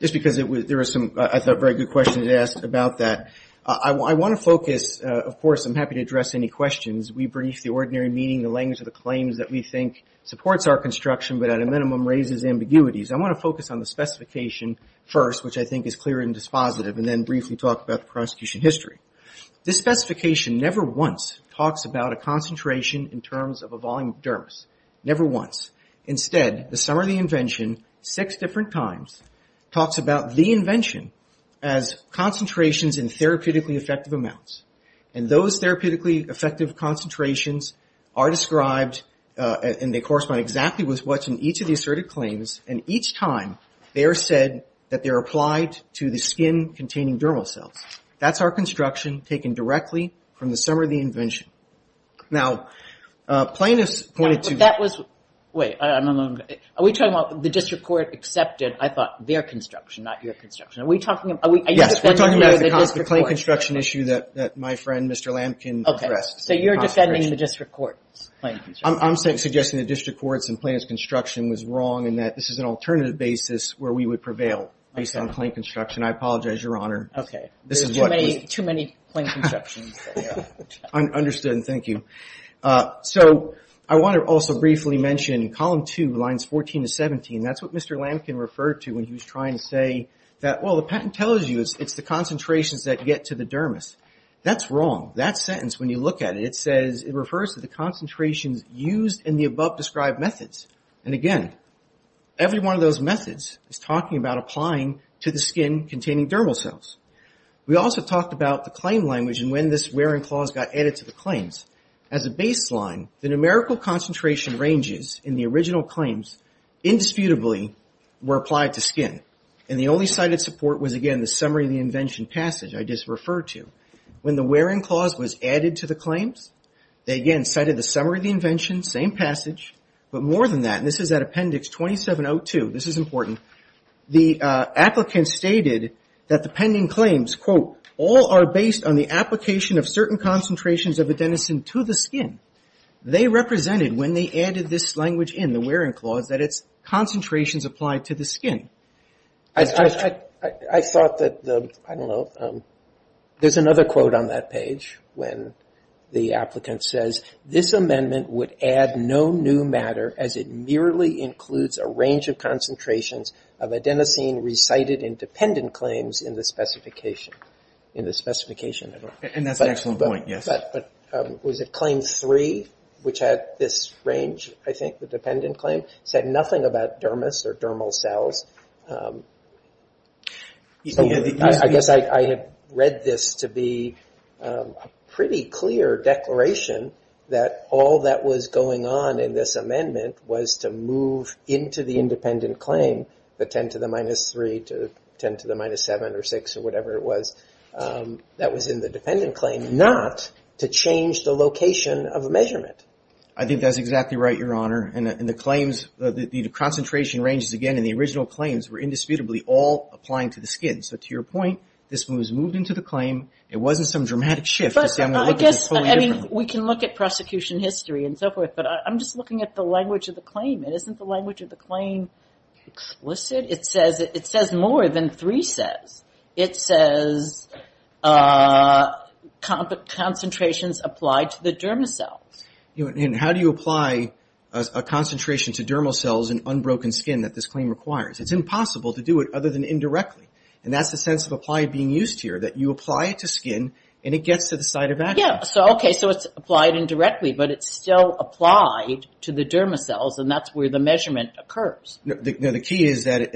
Just because there are some, I thought, very good questions asked about that. I want to focus, of course, I'm happy to address any questions. We brief the ordinary meeting, the language of the claims that we think supports our construction, but at a minimum raises ambiguities. I want to focus on the specification first, which I think is clear and dispositive, and then briefly talk about the prosecution history. This specification never once of a volume of dermis. Never once. Instead, the summary of the invention six different times talks about the invention as concentrations in therapeutically effective amounts. And those therapeutically effective concentrations are described, and they correspond exactly with what's in each of the asserted claims, and each time they are said that they're applied to the skin-containing dermal cells. That's our construction taken directly from the summary of the invention. Now, plaintiffs pointed to... The district court accepted, I thought, their construction, not your construction. Are we talking about... Yes, we're talking about the claim construction issue that my friend, Mr. Lampkin, addressed. So you're defending the district court's claim construction. I'm suggesting the district court's and plaintiff's construction was wrong, and that this is an alternative basis where we would prevail based on claim construction. I apologize, Your Honor. There's too many claim constructions. Understood, and thank you. I want to also briefly mention column 2, lines 14 to 17. That's what Mr. Lampkin referred to when he was trying to say that, well, the patent tells you it's the concentrations that get to the dermis. That's wrong. That sentence, when you look at it, it says... It refers to the concentrations used in the above described methods. And again, every one of those methods is talking about applying to the skin-containing dermal cells. We also talked about the claim language and when this wearing clause got added to the claims. As a baseline, the numerical concentration ranges in the original claims indisputably were applied to skin. And the only cited support was again the summary of the invention passage I just referred to. When the wearing clause was added to the claims, they again cited the summary of the invention, same passage, but more than that, and this is at appendix 2702, this is important, the applicant stated that the pending claims, quote, all are based on the application of certain concentrations of adenosine to the skin. They represented, when they added this language in, the wearing clause, that it's concentrations applied to the skin. I thought that the, I don't know, there's another quote on that page when the applicant says, this amendment would add no new matter as it merely includes a range of concentrations of adenosine recited in dependent claims in the specification. In the specification. And that's an excellent point, yes. But was it claim 3, which had this range, I think, the dependent claim, said nothing about dermis or dermal cells. I guess I had read this to be a pretty clear declaration that all that was going on in this amendment was to move into the independent claim the 10 to the minus 3 to 10 to the minus 7 or 6 or whatever it was, that was in the dependent claim, not to change the location of measurement. I think that's exactly right, Your Honor. And the claims, the concentration ranges, again, in the original claims were indisputably all applying to the skin. So to your point, this was moved into the claim, it wasn't some dramatic shift. I guess, I mean, we can look at prosecution history and so forth, but I'm just looking at the language of the claim. Isn't the language of the claim explicit? It says more than 3 says. It says concentrations applied to the dermal cells. And how do you apply a concentration to dermal cells and unbroken skin that this claim requires? It's impossible to do it other than indirectly. And that's the sense of applied being used here, that you apply it to skin, and it gets to the site of action. Yeah, so okay, so it's applied indirectly, but it's still applied to the dermal cells, and that's where the measurement occurs. The key is that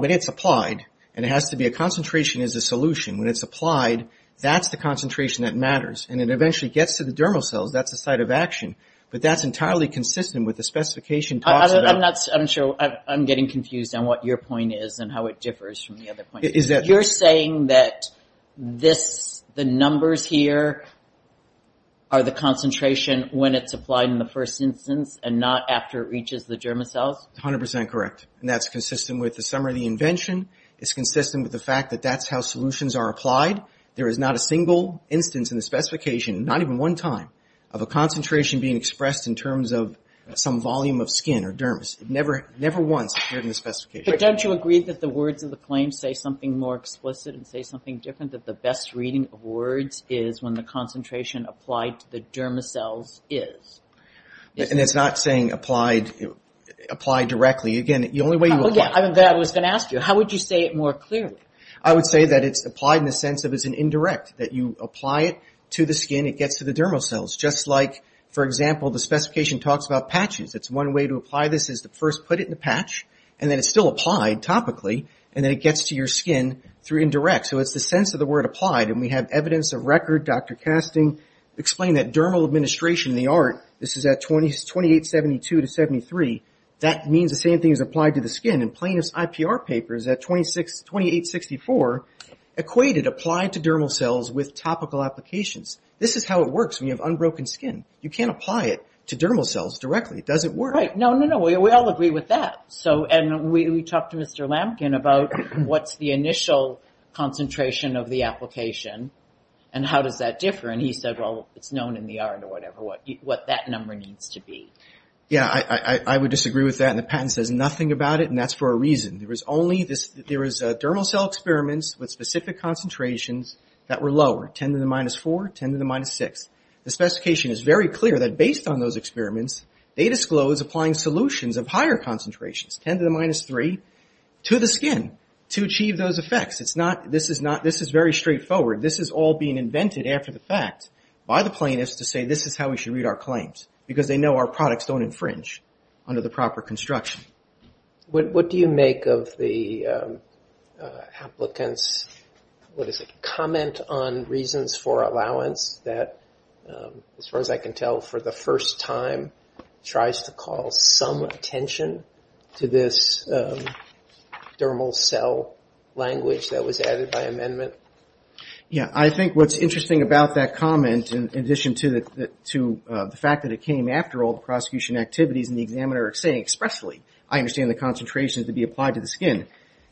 when it's applied, and it has to be a concentration as a solution, when it's applied, that's the concentration that matters. And it eventually gets to the dermal cells, that's the site of action. But that's entirely consistent with the specification. I'm getting confused on what your point is and how it differs from the other point. You're saying that the numbers here are the concentration when it's applied in the first instance, and not after it reaches the dermal cells? It's 100 percent correct. And that's consistent with the summary of the invention. It's consistent with the fact that that's how solutions are applied. There is not a single instance in the specification, not even one time, of a concentration being expressed in terms of some volume of skin or dermis. It never once appeared in the specification. But don't you agree that the words of the claim say something more explicit and say something different, that the best reading of words is when the concentration applied to the dermal cells is? And it's not saying applied directly. Again, the only way you apply it... I was going to ask you, how would you say it more clearly? I would say that it's applied in the sense that it's indirect, that you apply it to the skin, it gets to the dermal cells. Just like for example, the specification talks about patches. It's one way to apply this is to first put it in a patch, and then it's still applied topically, and then it gets to your skin through indirect. So it's the sense of the word applied, and we have evidence of record, Dr. Casting explained that dermal administration in the art, this is at 2872 to 7873, that means the same thing is applied to the skin. And Plaintiff's IPR paper is at 2864 equated applied to dermal cells with topical applications. This is how it works when you have unbroken skin. You can't apply it to dermal cells directly. It doesn't work. No, we all agree with that. And we talked to Mr. Lampkin about what's the initial concentration of the application, and how does that differ? And he said, well, it's known in the art or whatever what that number needs to be. Yeah, I would disagree with that and the patent says nothing about it, and that's for a reason. There was only this, there was dermal cell experiments with specific concentrations that were lower, 10 to the minus 4, 10 to the minus 6. The specification is very clear that based on those experiments, they disclose applying solutions of higher concentrations, 10 to the minus 3, to the skin to achieve those effects. This is very straightforward. This is all being invented after the fact by the plaintiffs to say this is how we should read our claims, because they know our products don't infringe under the proper construction. What do you make of the applicants comment on reasons for allowance that, as far as I can tell, for the first time, tries to call some attention to this dermal cell language that was added by amendment? Yeah, I think what's interesting about that comment in addition to the fact that it came after all the prosecution activities and the examiner saying expressly I understand the concentrations to be applied to the skin,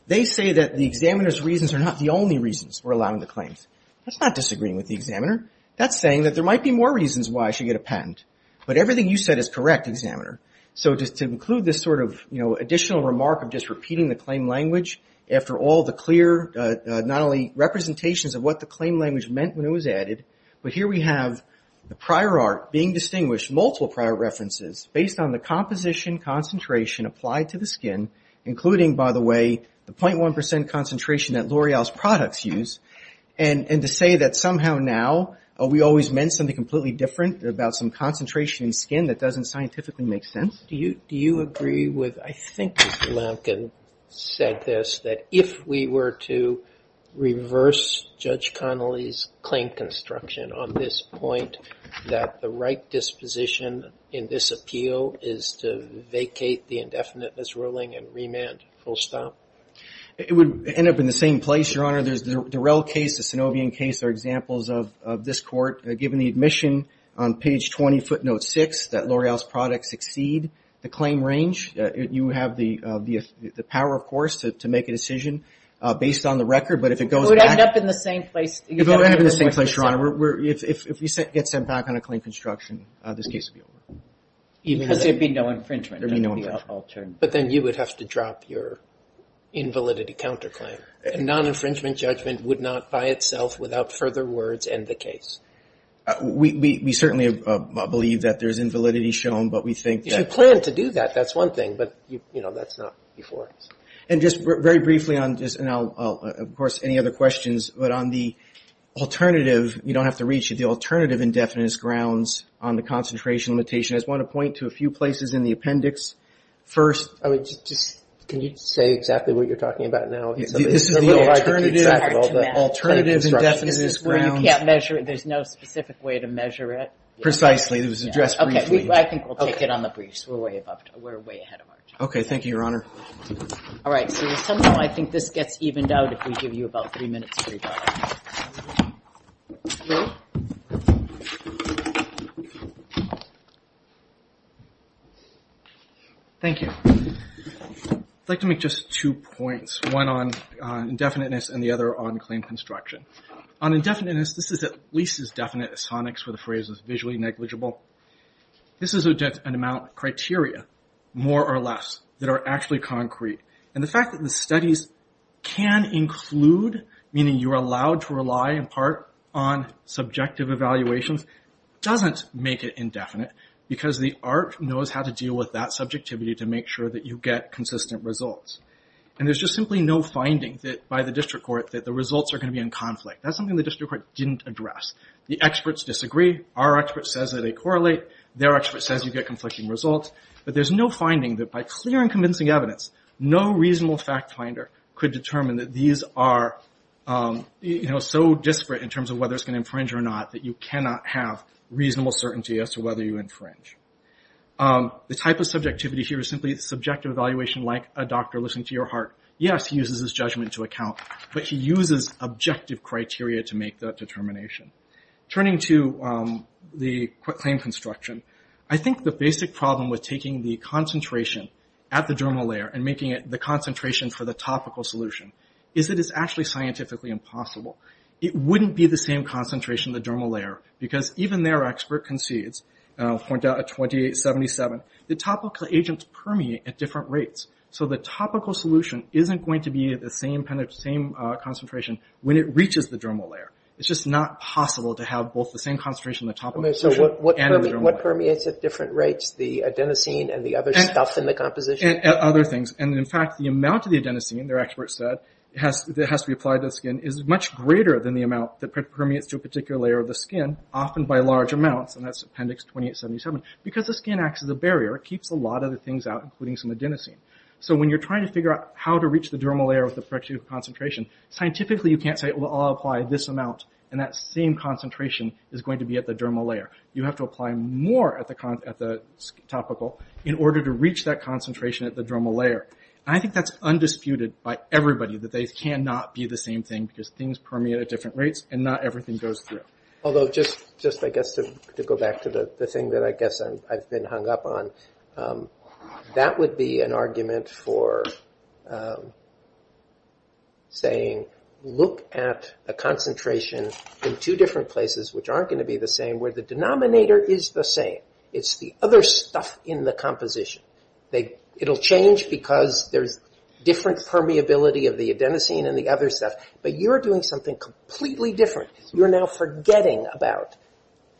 they say that the examiner's reasons are not the only reasons for allowing the claims. That's not disagreeing with the examiner. That's saying that there might be more reasons why I should get a patent, but everything you said is correct, examiner. So to include this sort of additional remark of just repeating the claim language after all the clear not only representations of what the claim language meant when it was added, but here we have the prior art being distinguished, multiple prior references based on the composition concentration applied to the skin, including by the way, the 0.1% concentration that L'Oreal's products use, and to say that somehow now we always meant something completely different about some concentration in skin that doesn't scientifically make sense. Do you agree with, I think Mr. Lampkin said this, that if we were to reverse Judge Connolly's claim construction on this point, that the right disposition in this appeal is to vacate the indefiniteness ruling and remand full stop? It would end up in the same place, Your Honor. There's the Durell case, the Sanovian case are examples of this court, given the admission on page 20 footnote 6 that L'Oreal's products exceed the claim range. You have the power, of course, to make a decision based on the record, but if it goes back... It would end up in the same place. It would end up in the same place, Your Honor. If we get sent back on a claim construction, this case would be over. Because there'd be no infringement. But then you would have to drop your invalidity counterclaim. A non-infringement judgment would not by itself, without further words, end the case. We certainly believe that there's invalidity shown, but we think that... If you plan to do that, that's one thing, but that's not before us. And just very briefly on this, and I'll, of course, any other questions, but on the alternative you don't have to reach, the alternative indefiniteness grounds on the concentration limitation, I just want to point to a few places in the appendix. First... Can you just say exactly what you're talking about now? The alternative indefiniteness grounds... Where you can't measure it, there's no specific way to measure it. Precisely, it was addressed briefly. Okay, I think we'll take it on the briefs, we're way ahead of our time. Okay, thank you, Your Honor. Alright, so there's some time I think this gets evened out if we give you about three minutes for your time. Thank you. I'd like to make just two points. One on indefiniteness and the other on claim construction. On indefiniteness, this is at least as definite as phonics where the phrase is visually negligible. This is an amount of criteria, more or less, that are actually concrete. And the fact that the studies can include, meaning you're allowed to rely in part on subjective evaluations, doesn't make it indefinite. Because the art knows how to deal with that subjectivity to make sure that you get consistent results. And there's just simply no finding by the district court that the results are going to be in conflict. That's something the district court didn't address. The experts disagree. Our expert says that they correlate. Their expert says you get conflicting results. But there's no finding that by clear and convincing evidence, no reasonable fact finder could determine that these are so disparate in terms of whether it's going to infringe or not, that you cannot have reasonable certainty as to whether you infringe. The type of subjectivity here is simply subjective evaluation like a doctor listening to your heart. Yes, he uses his judgment to account, but he uses objective criteria to make that determination. Turning to the claim construction, I think the basic problem with taking the concentration at the dermal layer and making it the concentration for the topical solution, is that it's actually scientifically impossible. It wouldn't be the same concentration in the dermal layer, because even their expert concedes, I'll point out at 2077, the topical agents permeate at different rates. The topical solution isn't going to be at the same concentration when it reaches the dermal layer. It's just not possible to have both the same concentration in the topical solution and in the dermal layer. What permeates at different rates? The adenosine and the other stuff in the composition? Other things. In fact, the amount of the adenosine, their expert said, that has to be applied to the skin is much greater than the amount that permeates to a particular layer of the skin, often by large amounts. That's Appendix 2877. Because the skin acts as a barrier, it keeps a lot of the things out, including some adenosine. So when you're trying to figure out how to reach the dermal layer with the corrective concentration, scientifically you can't say, well, I'll apply this amount, and that same concentration is going to be at the dermal layer. You have to apply more at the topical in order to reach that concentration at the dermal layer. I think that's undisputed by everybody, that they cannot be the same thing, because things permeate at different rates, and not everything goes through. Although, just I guess to go back to the thing that I guess I've been hung up on, that would be an argument for saying, look at a concentration in two different places, which aren't going to be the same, where the denominator is the same. It's the other stuff in the composition. It'll change because there's different permeability of the adenosine and the other stuff, but you're doing something completely different. You're now forgetting about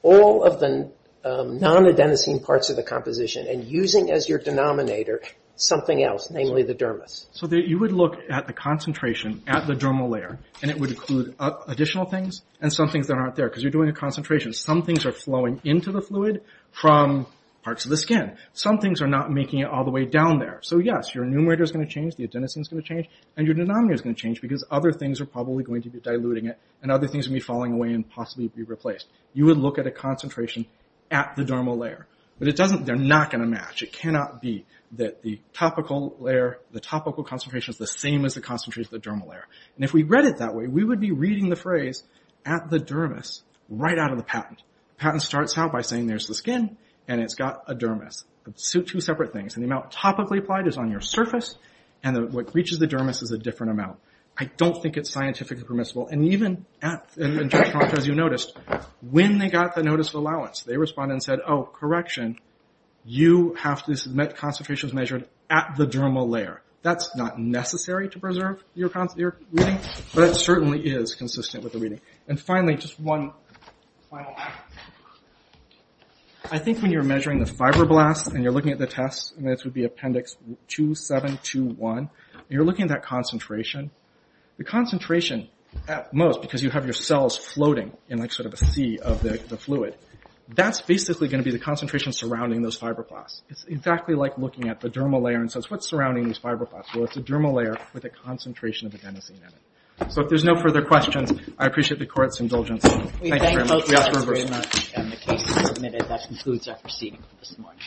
all of the non-adenosine parts of the composition, and using as your denominator something else, namely the dermis. So you would look at the concentration at the dermal layer, and it would include additional things, and some things that aren't there, because you're doing a concentration. Some things are flowing into the fluid from parts of the skin. Some things are not making it all the way down there. So yes, your numerator is going to change, the adenosine is going to change, and your denominator is going to change, because other things are probably going to be diluting it, and other things are going to be falling away and possibly be replaced. You would look at a concentration at the dermal layer. But they're not going to match. It cannot be that the topical layer, the topical concentration is the same as the concentration at the dermal layer. And if we read it that way, we would be reading the phrase at the dermis, right out of the patent. The patent starts out by saying there's the skin, and it's got a dermis. Two separate things. And the amount topically applied is on your surface, and what reaches the dermis is a different amount. I don't think it's scientifically permissible. And even at, as you noticed, when they got the notice of allowance, they responded and said, oh, correction, you have to submit concentrations measured at the dermal layer. That's not necessary to preserve your reading, but it certainly is consistent with the reading. And finally, just one final point. I think when you're measuring the fibroblasts, and you're looking at the tests, and this would be appendix 2721, and you're looking at that concentration, the concentration at most, because you have your cells floating in a sea of the fluid, that's basically going to be the concentration surrounding those fibroblasts. It's exactly like looking at the dermal layer and says, what's surrounding these fibroblasts? Well, it's a dermal layer with a concentration of adenosine in it. So if there's no further questions, I appreciate the court's indulgence. Thank you very much. We thank both sides very much, and the case is submitted. That concludes our proceeding for this morning.